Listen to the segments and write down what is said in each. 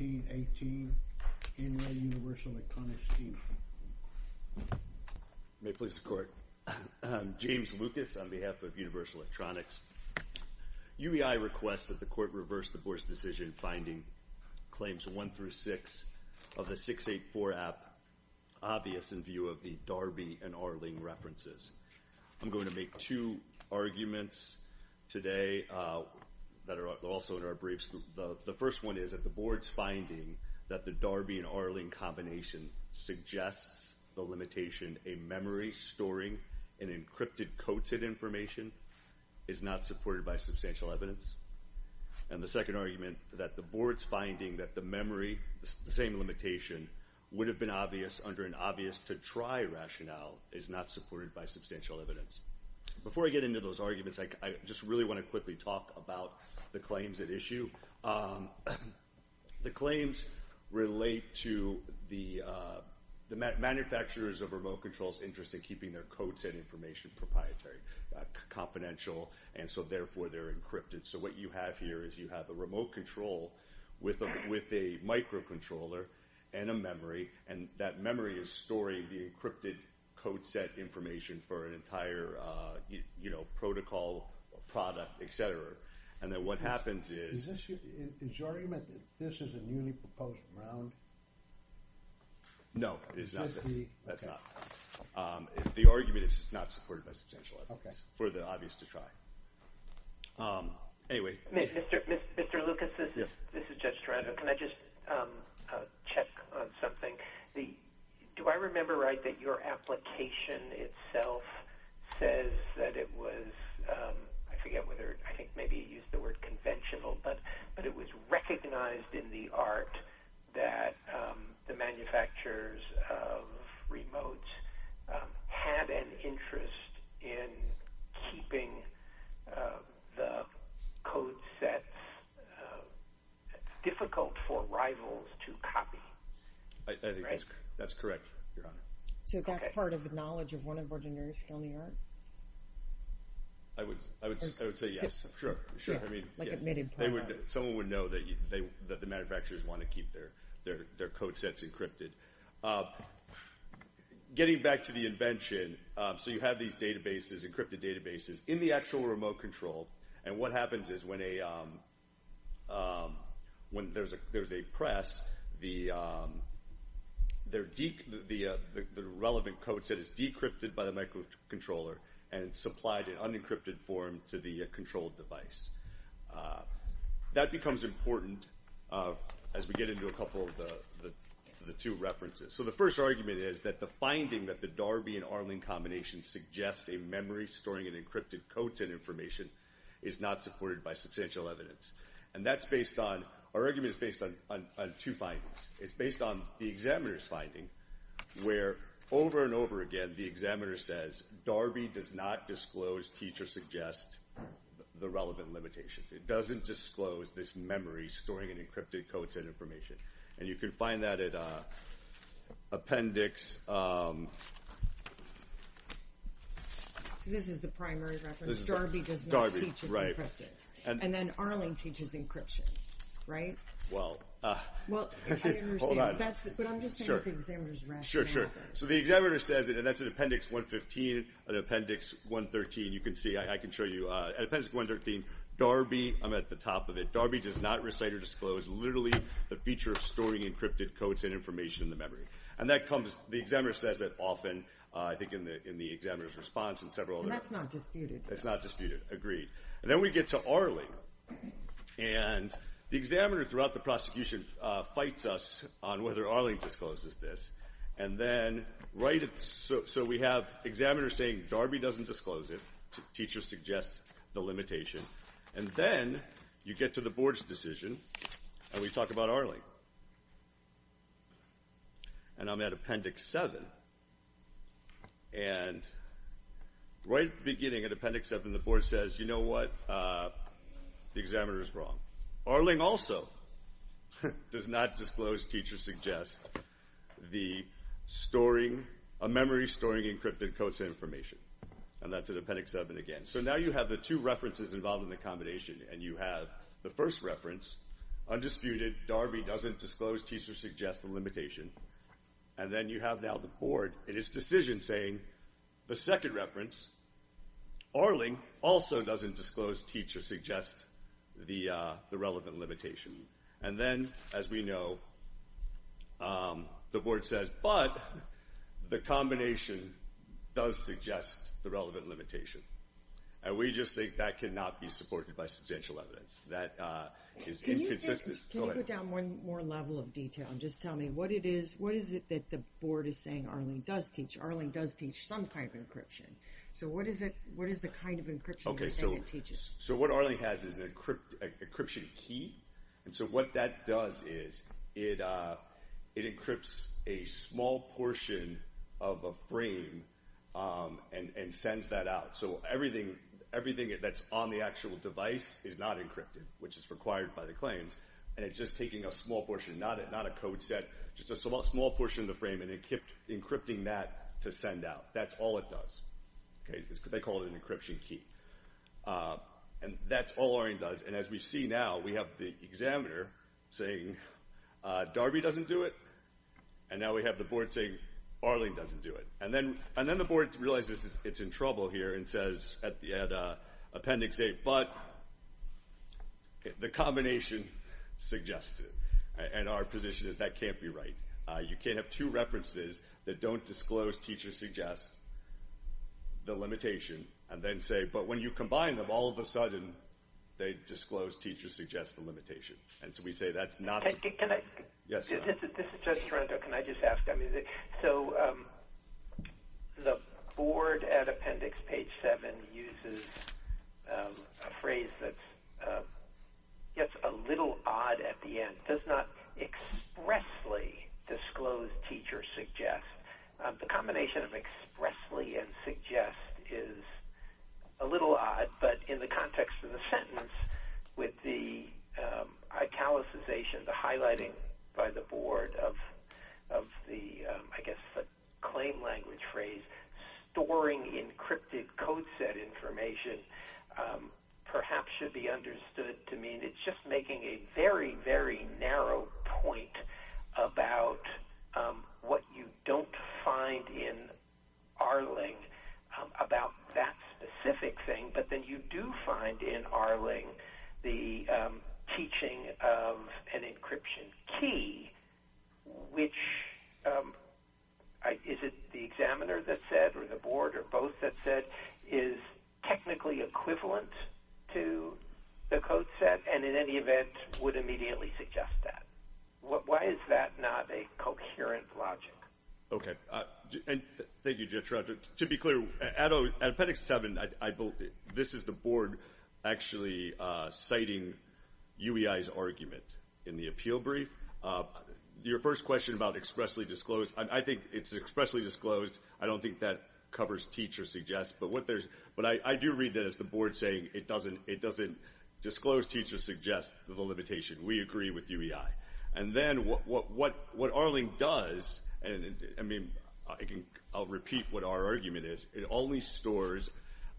May it please the court. James Lucas on behalf of Universal Electronics. UEI requests that the court reverse the board's decision finding claims 1 through 6 of the 684 app obvious in view of the Darby and Arling references. I'm going to make two arguments today that are also in our briefs. The first one is that the board's finding that the Darby and Arling combination suggests the limitation a memory storing an encrypted coded information is not supported by substantial evidence. And the second argument that the board's finding that the memory, the same limitation, would have been obvious under an obvious to try rationale is not supported by substantial evidence. Before I get into those arguments, I just really want to quickly talk about the claims at issue. The claims relate to the manufacturers of remote controls interest in keeping their code set information proprietary, confidential, and so therefore they're encrypted. So what you have here is you have a remote control with a microcontroller and a memory, and that memory is storing the encrypted code set information for an entire protocol, product, etc. And then what happens is... Is your argument that this is a newly proposed round? No, it's not. That's not. The argument is it's not supported by substantial evidence for the obvious to try. Mr. Lucas, this is Judge Taranto. Can I just check on something? Do I remember right that your application itself says that it was... I forget whether... I think maybe you used the word conventional, but it was recognized in the art that the manufacturers of the code sets, it's difficult for rivals to copy. I think that's correct, Your Honor. So that's part of the knowledge of one of ordinary skill in the art? I would say yes, sure. Someone would know that the manufacturers want to keep their code sets encrypted. Getting back to the invention, so you have these encrypted databases in the actual remote control, and what happens is when there's a press, the relevant code set is decrypted by the microcontroller and supplied in unencrypted form to the controlled device. That becomes important as we get into a couple of the two references. So the first argument is that the finding that the Darby and Arling combination suggests a memory storing in encrypted codes and information is not supported by substantial evidence. And that's based on... Our argument is based on two findings. It's based on the examiner's finding where over and over again the examiner says Darby does not disclose, or his teacher suggests, the relevant limitation. It doesn't disclose this memory storing in encrypted codes and information. And you can find that at appendix... So this is the primary reference. Darby does not teach it's encrypted. And then Arling teaches encryption, right? Well, hold on. But I'm just saying that the examiner's rationale... So the examiner says it, and that's in appendix 115 and appendix 113. You can see. I can show you. At appendix 113, Darby... I'm at the top of it. Darby does not recite or disclose literally the feature of storing encrypted codes and information in the memory. And that comes... The examiner says that often, I think, in the examiner's response and several other... And that's not disputed. That's not disputed. Agreed. And then we get to Arling. And the examiner throughout the prosecution fights us on whether Arling discloses this. And then right... So we have examiners saying Darby doesn't disclose it. Teacher suggests the limitation. And then you get to the board's decision. And we talk about Arling. And I'm at appendix 7. And right beginning at appendix 7, the board says, you know what? The examiner is wrong. Arling also does not disclose, teacher suggests, the storing... A memory storing encrypted codes and information. And that's at appendix 7 again. So now you have the two references involved in the combination. And you have the first reference. Undisputed. Darby doesn't disclose, teacher suggests the limitation. And then you have now the board in its decision saying the second reference. Arling also doesn't disclose, teacher suggests, the relevant limitation. And then, as we know, the board says, but the combination does suggest the relevant limitation. And we just think that cannot be supported by substantial evidence. That is inconsistent. Can you go down one more level of detail and just tell me what it is? What is it that the board is saying Arling does teach? Arling does teach some kind of encryption. So what is the kind of encryption that it teaches? So what Arling has is an encryption key. And so what that does is it encrypts a small portion of a frame and sends that out. So everything that's on the actual device is not encrypted, which is required by the claims. And it's just taking a small portion, not a code set, just a small portion of the frame, and encrypting that to send out. That's all it does. They call it an encryption key. And that's all Arling does. And as we see now, we have the examiner saying Darby doesn't do it, and now we have the board saying Arling doesn't do it. And then the board realizes it's in trouble here and says at appendix A, but the combination suggests it. And our position is that can't be right. You can't have two references that don't disclose, teach, or suggest the limitation and then say, but when you combine them, all of a sudden they disclose, teach, or suggest the limitation. And so we say that's not. Can I? Yes. This is just Toronto. Can I just ask? So the board at appendix page 7 uses a phrase that's a little odd at the end. It does not expressly disclose, teach, or suggest. The combination of expressly and suggest is a little odd, but in the context of the sentence with the italicization, the highlighting by the board of the, I guess, the claim language phrase, storing encrypted code set information perhaps should be understood to mean it's just making a very, very narrow point about what you don't find in Arling about that specific thing, but then you do find in Arling the teaching of an encryption key, which is it the examiner that said or the board or both that said is technically equivalent to the code set and, in any event, would immediately suggest that. Why is that not a coherent logic? Okay. Thank you, Judge Roger. To be clear, at appendix 7, this is the board actually citing UEI's argument in the appeal brief. Your first question about expressly disclose, I think it's expressly disclosed. I don't think that covers teach or suggest. But I do read that as the board saying it doesn't disclose teach or suggest the limitation. We agree with UEI. And then what Arling does, and I'll repeat what our argument is, it only stores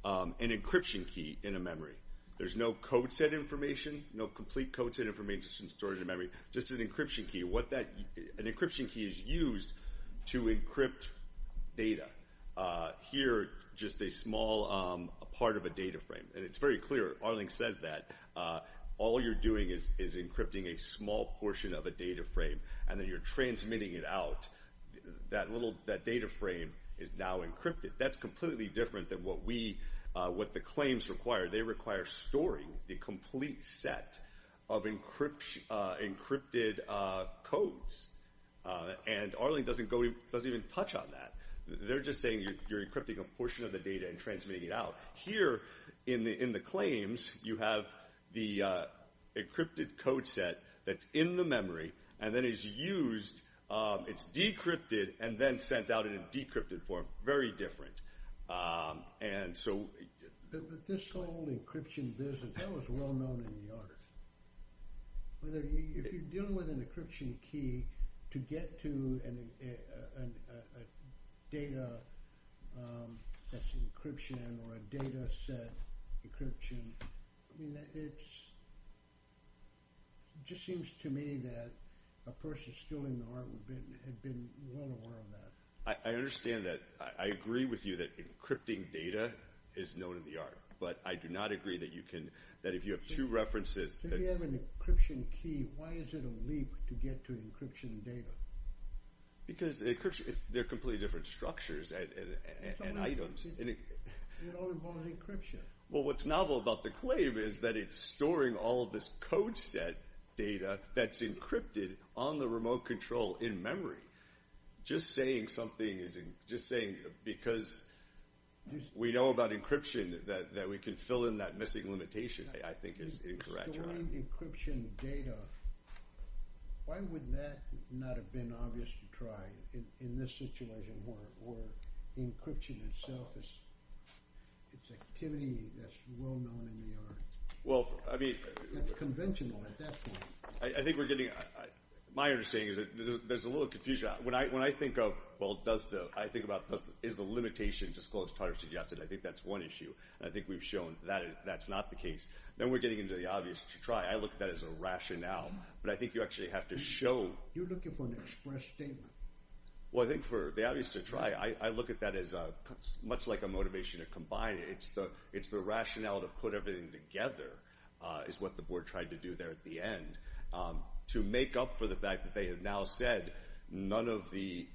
an encryption key in a memory. There's no code set information, no complete code set information stored in a memory, just an encryption key. An encryption key is used to encrypt data. Here, just a small part of a data frame. And it's very clear, Arling says that. All you're doing is encrypting a small portion of a data frame, and then you're transmitting it out. That little data frame is now encrypted. That's completely different than what the claims require. They require storing the complete set of encrypted codes. And Arling doesn't even touch on that. They're just saying you're encrypting a portion of the data and transmitting it out. Here, in the claims, you have the encrypted code set that's in the memory, and then it's used, it's decrypted, and then sent out in a decrypted form. Very different. And so... This whole encryption business, that was well known in New York. If you're dealing with an encryption key to get to a data that's encryption or a data set encryption, it just seems to me that a person still in the art would have been well aware of that. I understand that. I agree with you that encrypting data is known in the art, but I do not agree that if you have two references... If you have an encryption key, why is it a leap to get to encryption data? Because they're completely different structures and items. It all involves encryption. Well, what's novel about the claim is that it's storing all of this code set data that's encrypted on the remote control in memory. Just saying something is just saying because we know about encryption that we can fill in that missing limitation, I think, is incorrect. Storing encryption data, why would that not have been obvious to try in this situation where encryption itself is activity that's well known in the art? Well, I mean... It's conventional at that point. I think we're getting... My understanding is that there's a little confusion. When I think of, well, does the... I think about is the limitation disclosed, harder suggested. I think that's one issue, and I think we've shown that that's not the case. Then we're getting into the obvious to try. I look at that as a rationale, but I think you actually have to show... You're looking for an express statement. Well, I think for the obvious to try, I look at that as much like a motivation to combine. It's the rationale to put everything together is what the board tried to do there at the end. To make up for the fact that they have now said none of the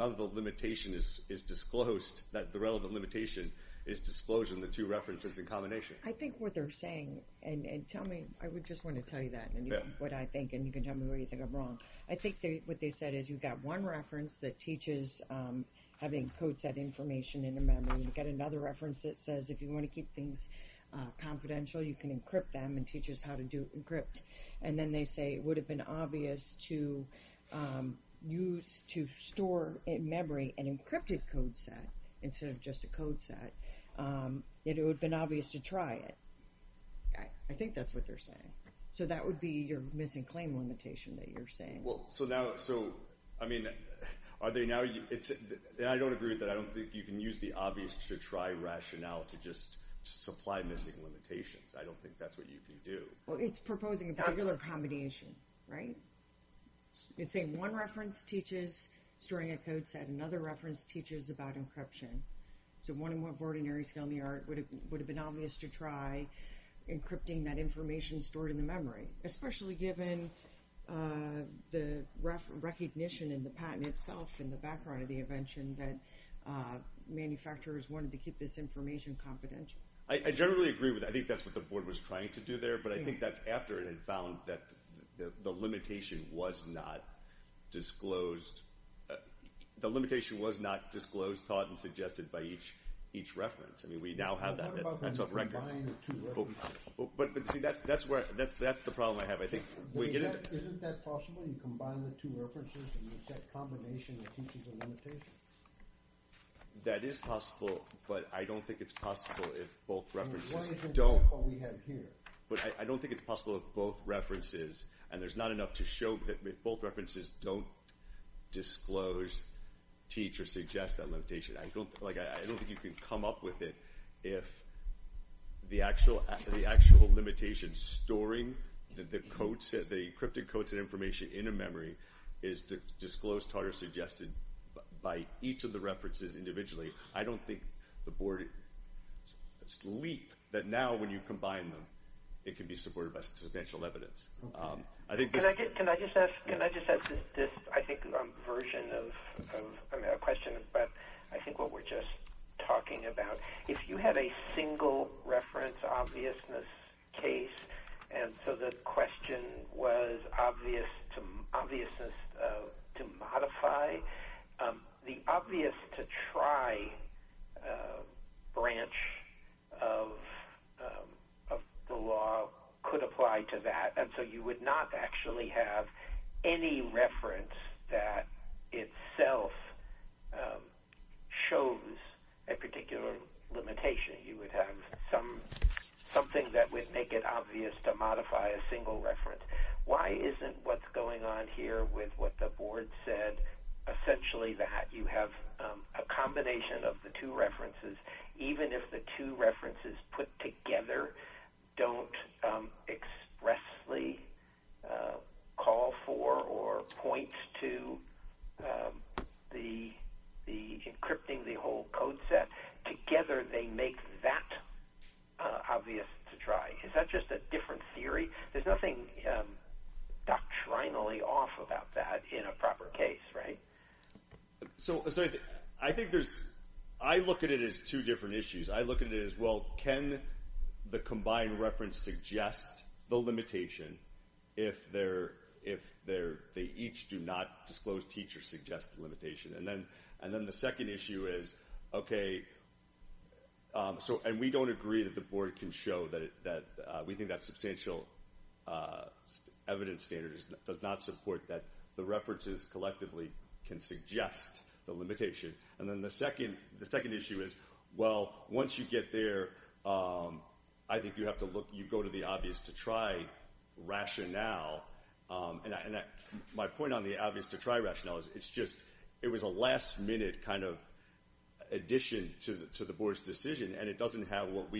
limitation is disclosed, that the relevant limitation is disclosure and the two references in combination. I think what they're saying, and tell me. I just want to tell you that, what I think, and you can tell me what you think I'm wrong. I think what they said is you've got one reference that teaches having code set information in a memory. You've got another reference that says if you want to keep things confidential, you can encrypt them and teaches how to do encrypt. Then they say it would have been obvious to use, to store in memory an encrypted code set instead of just a code set. It would have been obvious to try it. I think that's what they're saying. That would be your missing claim limitation that you're saying. Are they now... I don't agree with that. I don't think you can use the obvious to try rationale to just supply missing limitations. I don't think that's what you can do. Well, it's proposing a particular combination, right? It's saying one reference teaches storing a code set. Another reference teaches about encryption. So one and one of ordinary skill in the art would have been obvious to try encrypting that information stored in the memory, especially given the recognition in the patent itself and the background of the invention that manufacturers wanted to keep this information confidential. I generally agree with that. I think that's what the board was trying to do there. But I think that's after it had found that the limitation was not disclosed... The limitation was not disclosed, taught, and suggested by each reference. I mean, we now have that. What about when you combine the two references? But, see, that's the problem I have. I think we get it. Isn't that possible? You combine the two references and you get a combination that teaches a limitation. That is possible, but I don't think it's possible if both references don't... Why isn't that what we have here? But I don't think it's possible if both references, and there's not enough to show that both references don't disclose, teach, or suggest that limitation. I don't think you can come up with it if the actual limitation storing the encrypted codes and information in a memory is disclosed, taught, or suggested by each of the references individually. I don't think the board... It's the leap that now, when you combine them, it can be supported by substantial evidence. Can I just ask this, I think, version of a question? But I think what we're just talking about, if you had a single reference obviousness case and so the question was obviousness to modify, the obvious to try branch of the law could apply to that, and so you would not actually have any reference that itself shows a particular limitation. You would have something that would make it obvious to modify a single reference. Why isn't what's going on here with what the board said essentially that you have a combination of the two references, even if the two references put together don't expressly call for or point to the encrypting the whole code set? Together they make that obvious to try. Is that just a different theory? There's nothing doctrinally off about that in a proper case, right? So I think there's... I look at it as two different issues. I look at it as, well, can the combined reference suggest the limitation if they each do not disclose, teach, or suggest the limitation? And then the second issue is, okay... And we don't agree that the board can show that... We think that substantial evidence standard does not support that the references collectively can suggest the limitation. And then the second issue is, well, once you get there, I think you have to look... You go to the obvious to try rationale, and my point on the obvious to try rationale is it's just... It was a last-minute kind of addition to the board's decision, and it doesn't have what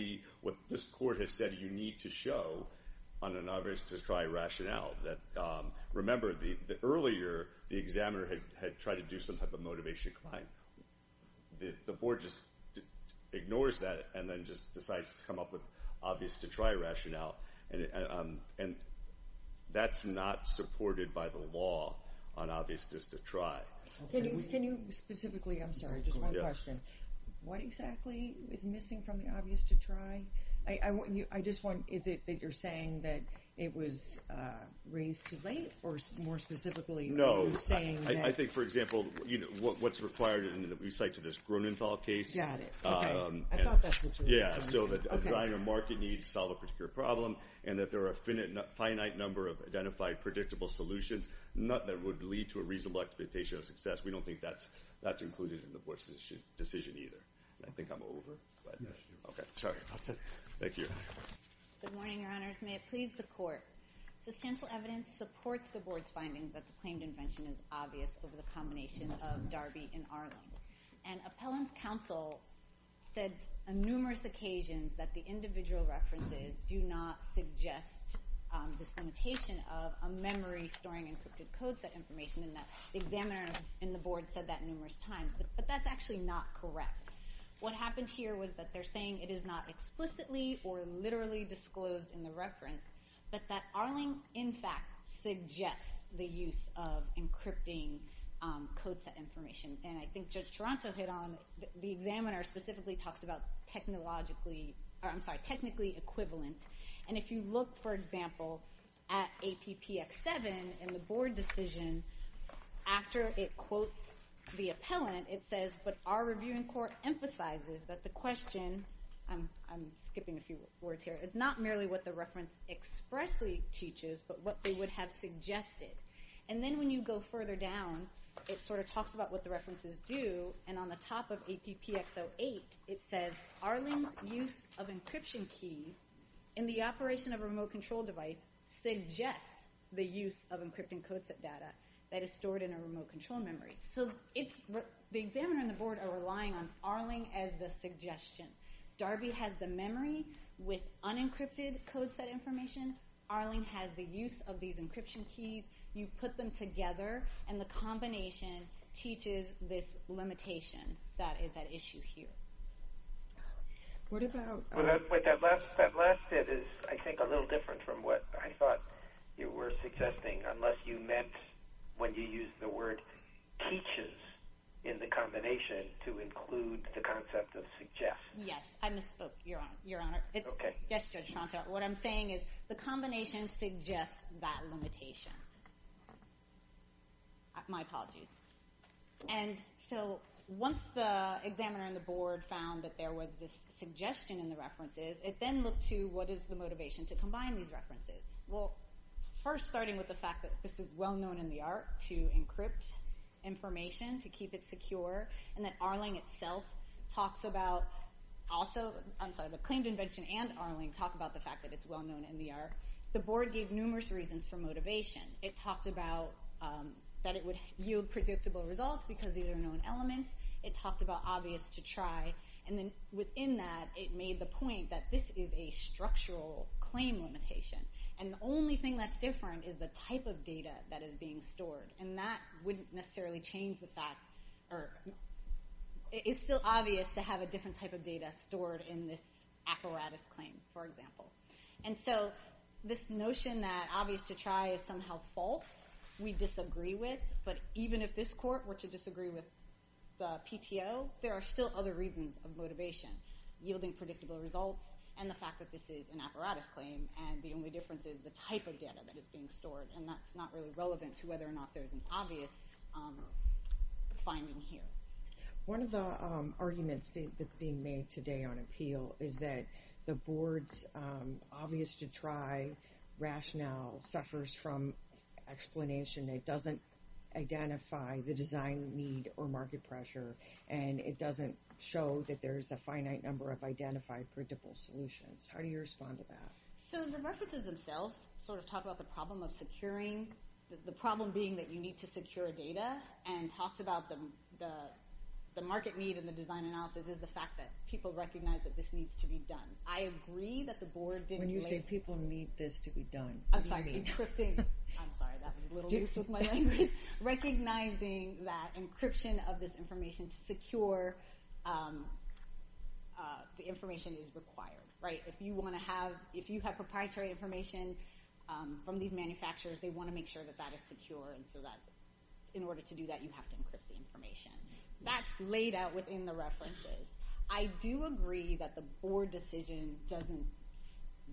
this court has said you need to show on an obvious to try rationale. Remember, earlier, the examiner had tried to do some type of motivation claim. The board just ignores that and then just decides to come up with obvious to try rationale, and that's not supported by the law on obvious just to try. Can you specifically... I'm sorry, just one question. What exactly is missing from the obvious to try? I just want... Is it that you're saying that it was raised too late, or, more specifically, are you saying that... No, I think, for example, what's required in that we cite to this Grunenthal case... Got it. Okay. I thought that's what you meant. Yeah, so that a design or market needs to solve a particular problem and that there are a finite number of identified predictable solutions, that would lead to a reasonable expectation of success. We don't think that's included in the board's decision either. I think I'm over, but... Yes, you are. Okay, sorry. Thank you. Good morning, Your Honors. May it please the Court. Substantial evidence supports the board's finding that the claimed invention is obvious over the combination of Darby and Arlen. And appellant counsel said on numerous occasions that the individual references do not suggest this limitation of a memory storing encrypted code set information. And the examiner in the board said that numerous times. But that's actually not correct. What happened here was that they're saying it is not explicitly or literally disclosed in the reference, but that Arlen, in fact, suggests the use of encrypting code set information. And I think Judge Toronto hit on... The examiner specifically talks about technologically... I'm sorry, technically equivalent. And if you look, for example, at APPX-7 in the board decision, after it quotes the appellant, it says, but our reviewing court emphasizes that the question... I'm skipping a few words here. It's not merely what the reference expressly teaches, but what they would have suggested. And then when you go further down, it sort of talks about what the references do. And on the top of APPX-08, it says Arlen's use of encryption keys in the operation of a remote control device suggests the use of encrypting code set data that is stored in a remote control memory. So the examiner and the board are relying on Arlen as the suggestion. Darby has the memory with unencrypted code set information. Arlen has the use of these encryption keys. You put them together, and the combination teaches this limitation that is at issue here. What about... That last bit is, I think, a little different from what I thought you were suggesting, unless you meant when you used the word teaches in the combination to include the concept of suggest. Yes, I misspoke, Your Honor. Okay. What I'm saying is the combination suggests that limitation. My apologies. And so once the examiner and the board found that there was this suggestion in the references, it then looked to what is the motivation to combine these references. Well, first, starting with the fact that this is well-known in the art to encrypt information to keep it secure, and that Arlen itself talks about also... I'm sorry, the claimed invention and Arlen talk about the fact that it's well-known in the art. The board gave numerous reasons for motivation. It talked about that it would yield predictable results because these are known elements. It talked about obvious to try. And then within that, it made the point that this is a structural claim limitation. And the only thing that's different is the type of data that is being stored. And that wouldn't necessarily change the fact... It's still obvious to have a different type of data stored in this apparatus claim, for example. And so this notion that obvious to try is somehow false, we disagree with. But even if this court were to disagree with the PTO, there are still other reasons of motivation, yielding predictable results, and the fact that this is an apparatus claim, and the only difference is the type of data that is being stored. And that's not really relevant to whether or not there's an obvious finding here. One of the arguments that's being made today on appeal is that the board's obvious to try rationale suffers from explanation. It doesn't identify the design need or market pressure, and it doesn't show that there's a finite number of identified predictable solutions. How do you respond to that? So the references themselves sort of talk about the problem of securing, the problem being that you need to secure data, and talks about the market need and the design analysis is the fact that people recognize that this needs to be done. I agree that the board didn't make... When you say people need this to be done, what do you mean? I'm sorry, encrypting... I'm sorry, that was a little loose with my language. Recognizing that encryption of this information to secure the information is required, right? If you want to have... If you have proprietary information from these manufacturers, they want to make sure that that is secure, and so that in order to do that, you have to encrypt the information. That's laid out within the references. I do agree that the board decision doesn't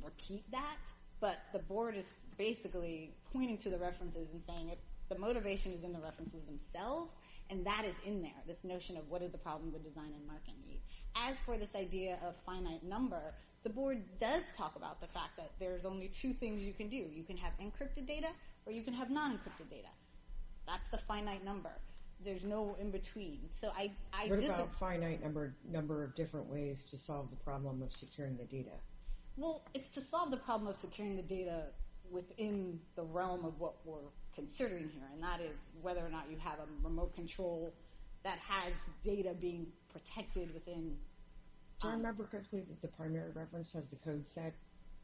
repeat that, but the board is basically pointing to the references and saying the motivation is in the references themselves, and that is in there, this notion of what is the problem with design and market need. As for this idea of finite number, the board does talk about the fact that there's only two things you can do. You can have encrypted data or you can have non-encrypted data. That's the finite number. There's no in between, so I disagree. What about finite number of different ways to solve the problem of securing the data? Well, it's to solve the problem of securing the data within the realm of what we're considering here, and that is whether or not you have a remote control that has data being protected within... Do I remember correctly that the primary reference has the code set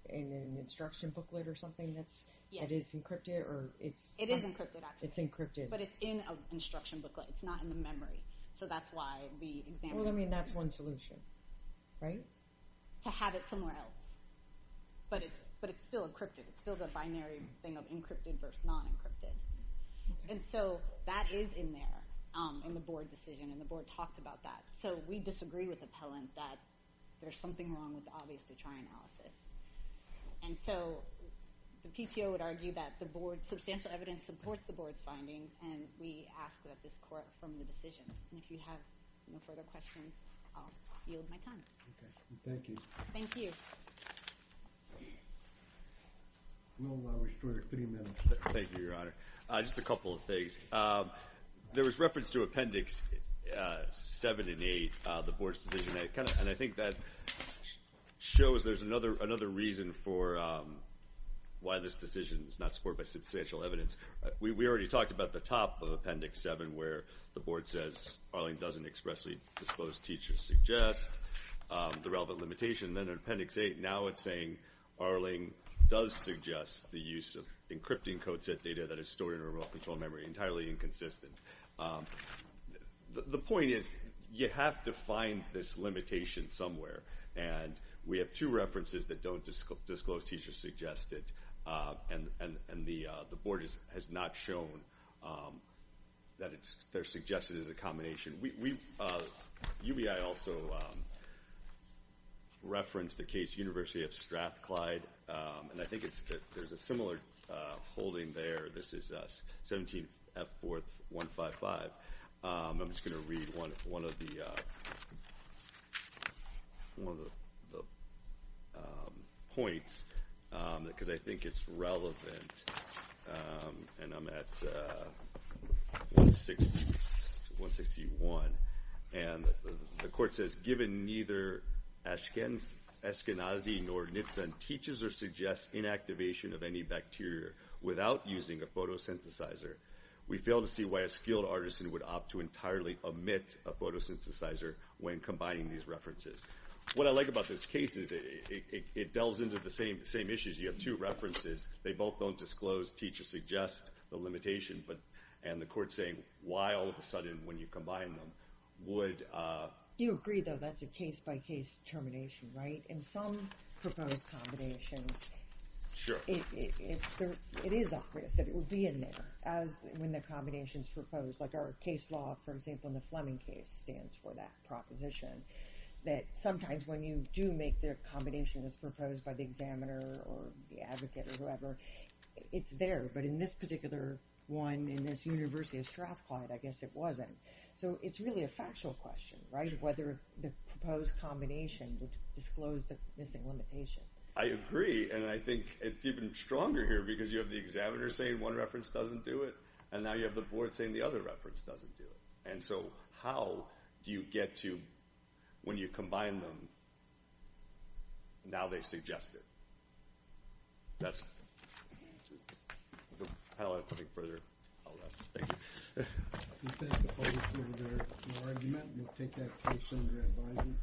in an instruction booklet or something that is encrypted? It is encrypted, actually. It's encrypted. But it's in an instruction booklet. It's not in the memory, so that's why we examined... Well, I mean, that's one solution, right? To have it somewhere else, but it's still encrypted. It's still the binary thing of encrypted versus non-encrypted, and so that is in there in the board decision, and the board talked about that, so we disagree with the appellant that there's something wrong with the obvious-to-try analysis, and so the PTO would argue that substantial evidence supports the board's finding, and we ask that this court affirm the decision. And if you have no further questions, I'll yield my time. Okay. Thank you. Thank you. We'll restore three minutes. Thank you, Your Honor. Just a couple of things. There was reference to Appendix 7 and 8, the board's decision, and I think that shows there's another reason for why this decision is not supported by substantial evidence, because we already talked about the top of Appendix 7, where the board says Arling doesn't expressly disclose teacher-suggest, the relevant limitation, and then in Appendix 8 now it's saying Arling does suggest the use of encrypting code set data that is stored in a remote-controlled memory, entirely inconsistent. The point is you have to find this limitation somewhere, and we have two references that don't disclose teacher-suggested, and the board has not shown that they're suggested as a combination. UBI also referenced the case University of Strathclyde, and I think there's a similar holding there. This is 17-F-4-155. I'm just going to read one of the points, because I think it's relevant, and I'm at 161, and the court says, Given neither Ashkenazi nor Nitzen teaches or suggests inactivation of any bacteria without using a photosynthesizer, we fail to see why a skilled artisan would opt to entirely omit a photosynthesizer when combining these references. What I like about this case is it delves into the same issues. You have two references. They both don't disclose teacher-suggested, the limitation, and the court's saying why all of a sudden, when you combine them, would... You agree, though, that's a case-by-case termination, right? In some proposed combinations, it is obvious that it would be in there when the combination's proposed. Like our case law, for example, in the Fleming case, stands for that proposition, that sometimes when you do make the combination that's proposed by the examiner or the advocate or whoever, it's there, but in this particular one, in this University of Strathclyde, I guess it wasn't. So it's really a factual question, right? Whether the proposed combination would disclose the missing limitation. I agree, and I think it's even stronger here because you have the examiner saying one reference doesn't do it, and now you have the board saying the other reference doesn't do it. And so how do you get to, when you combine them, now they suggest it? That's it. I don't have anything further. Thank you. If you think the public heard your argument, we'll take that case under advisement.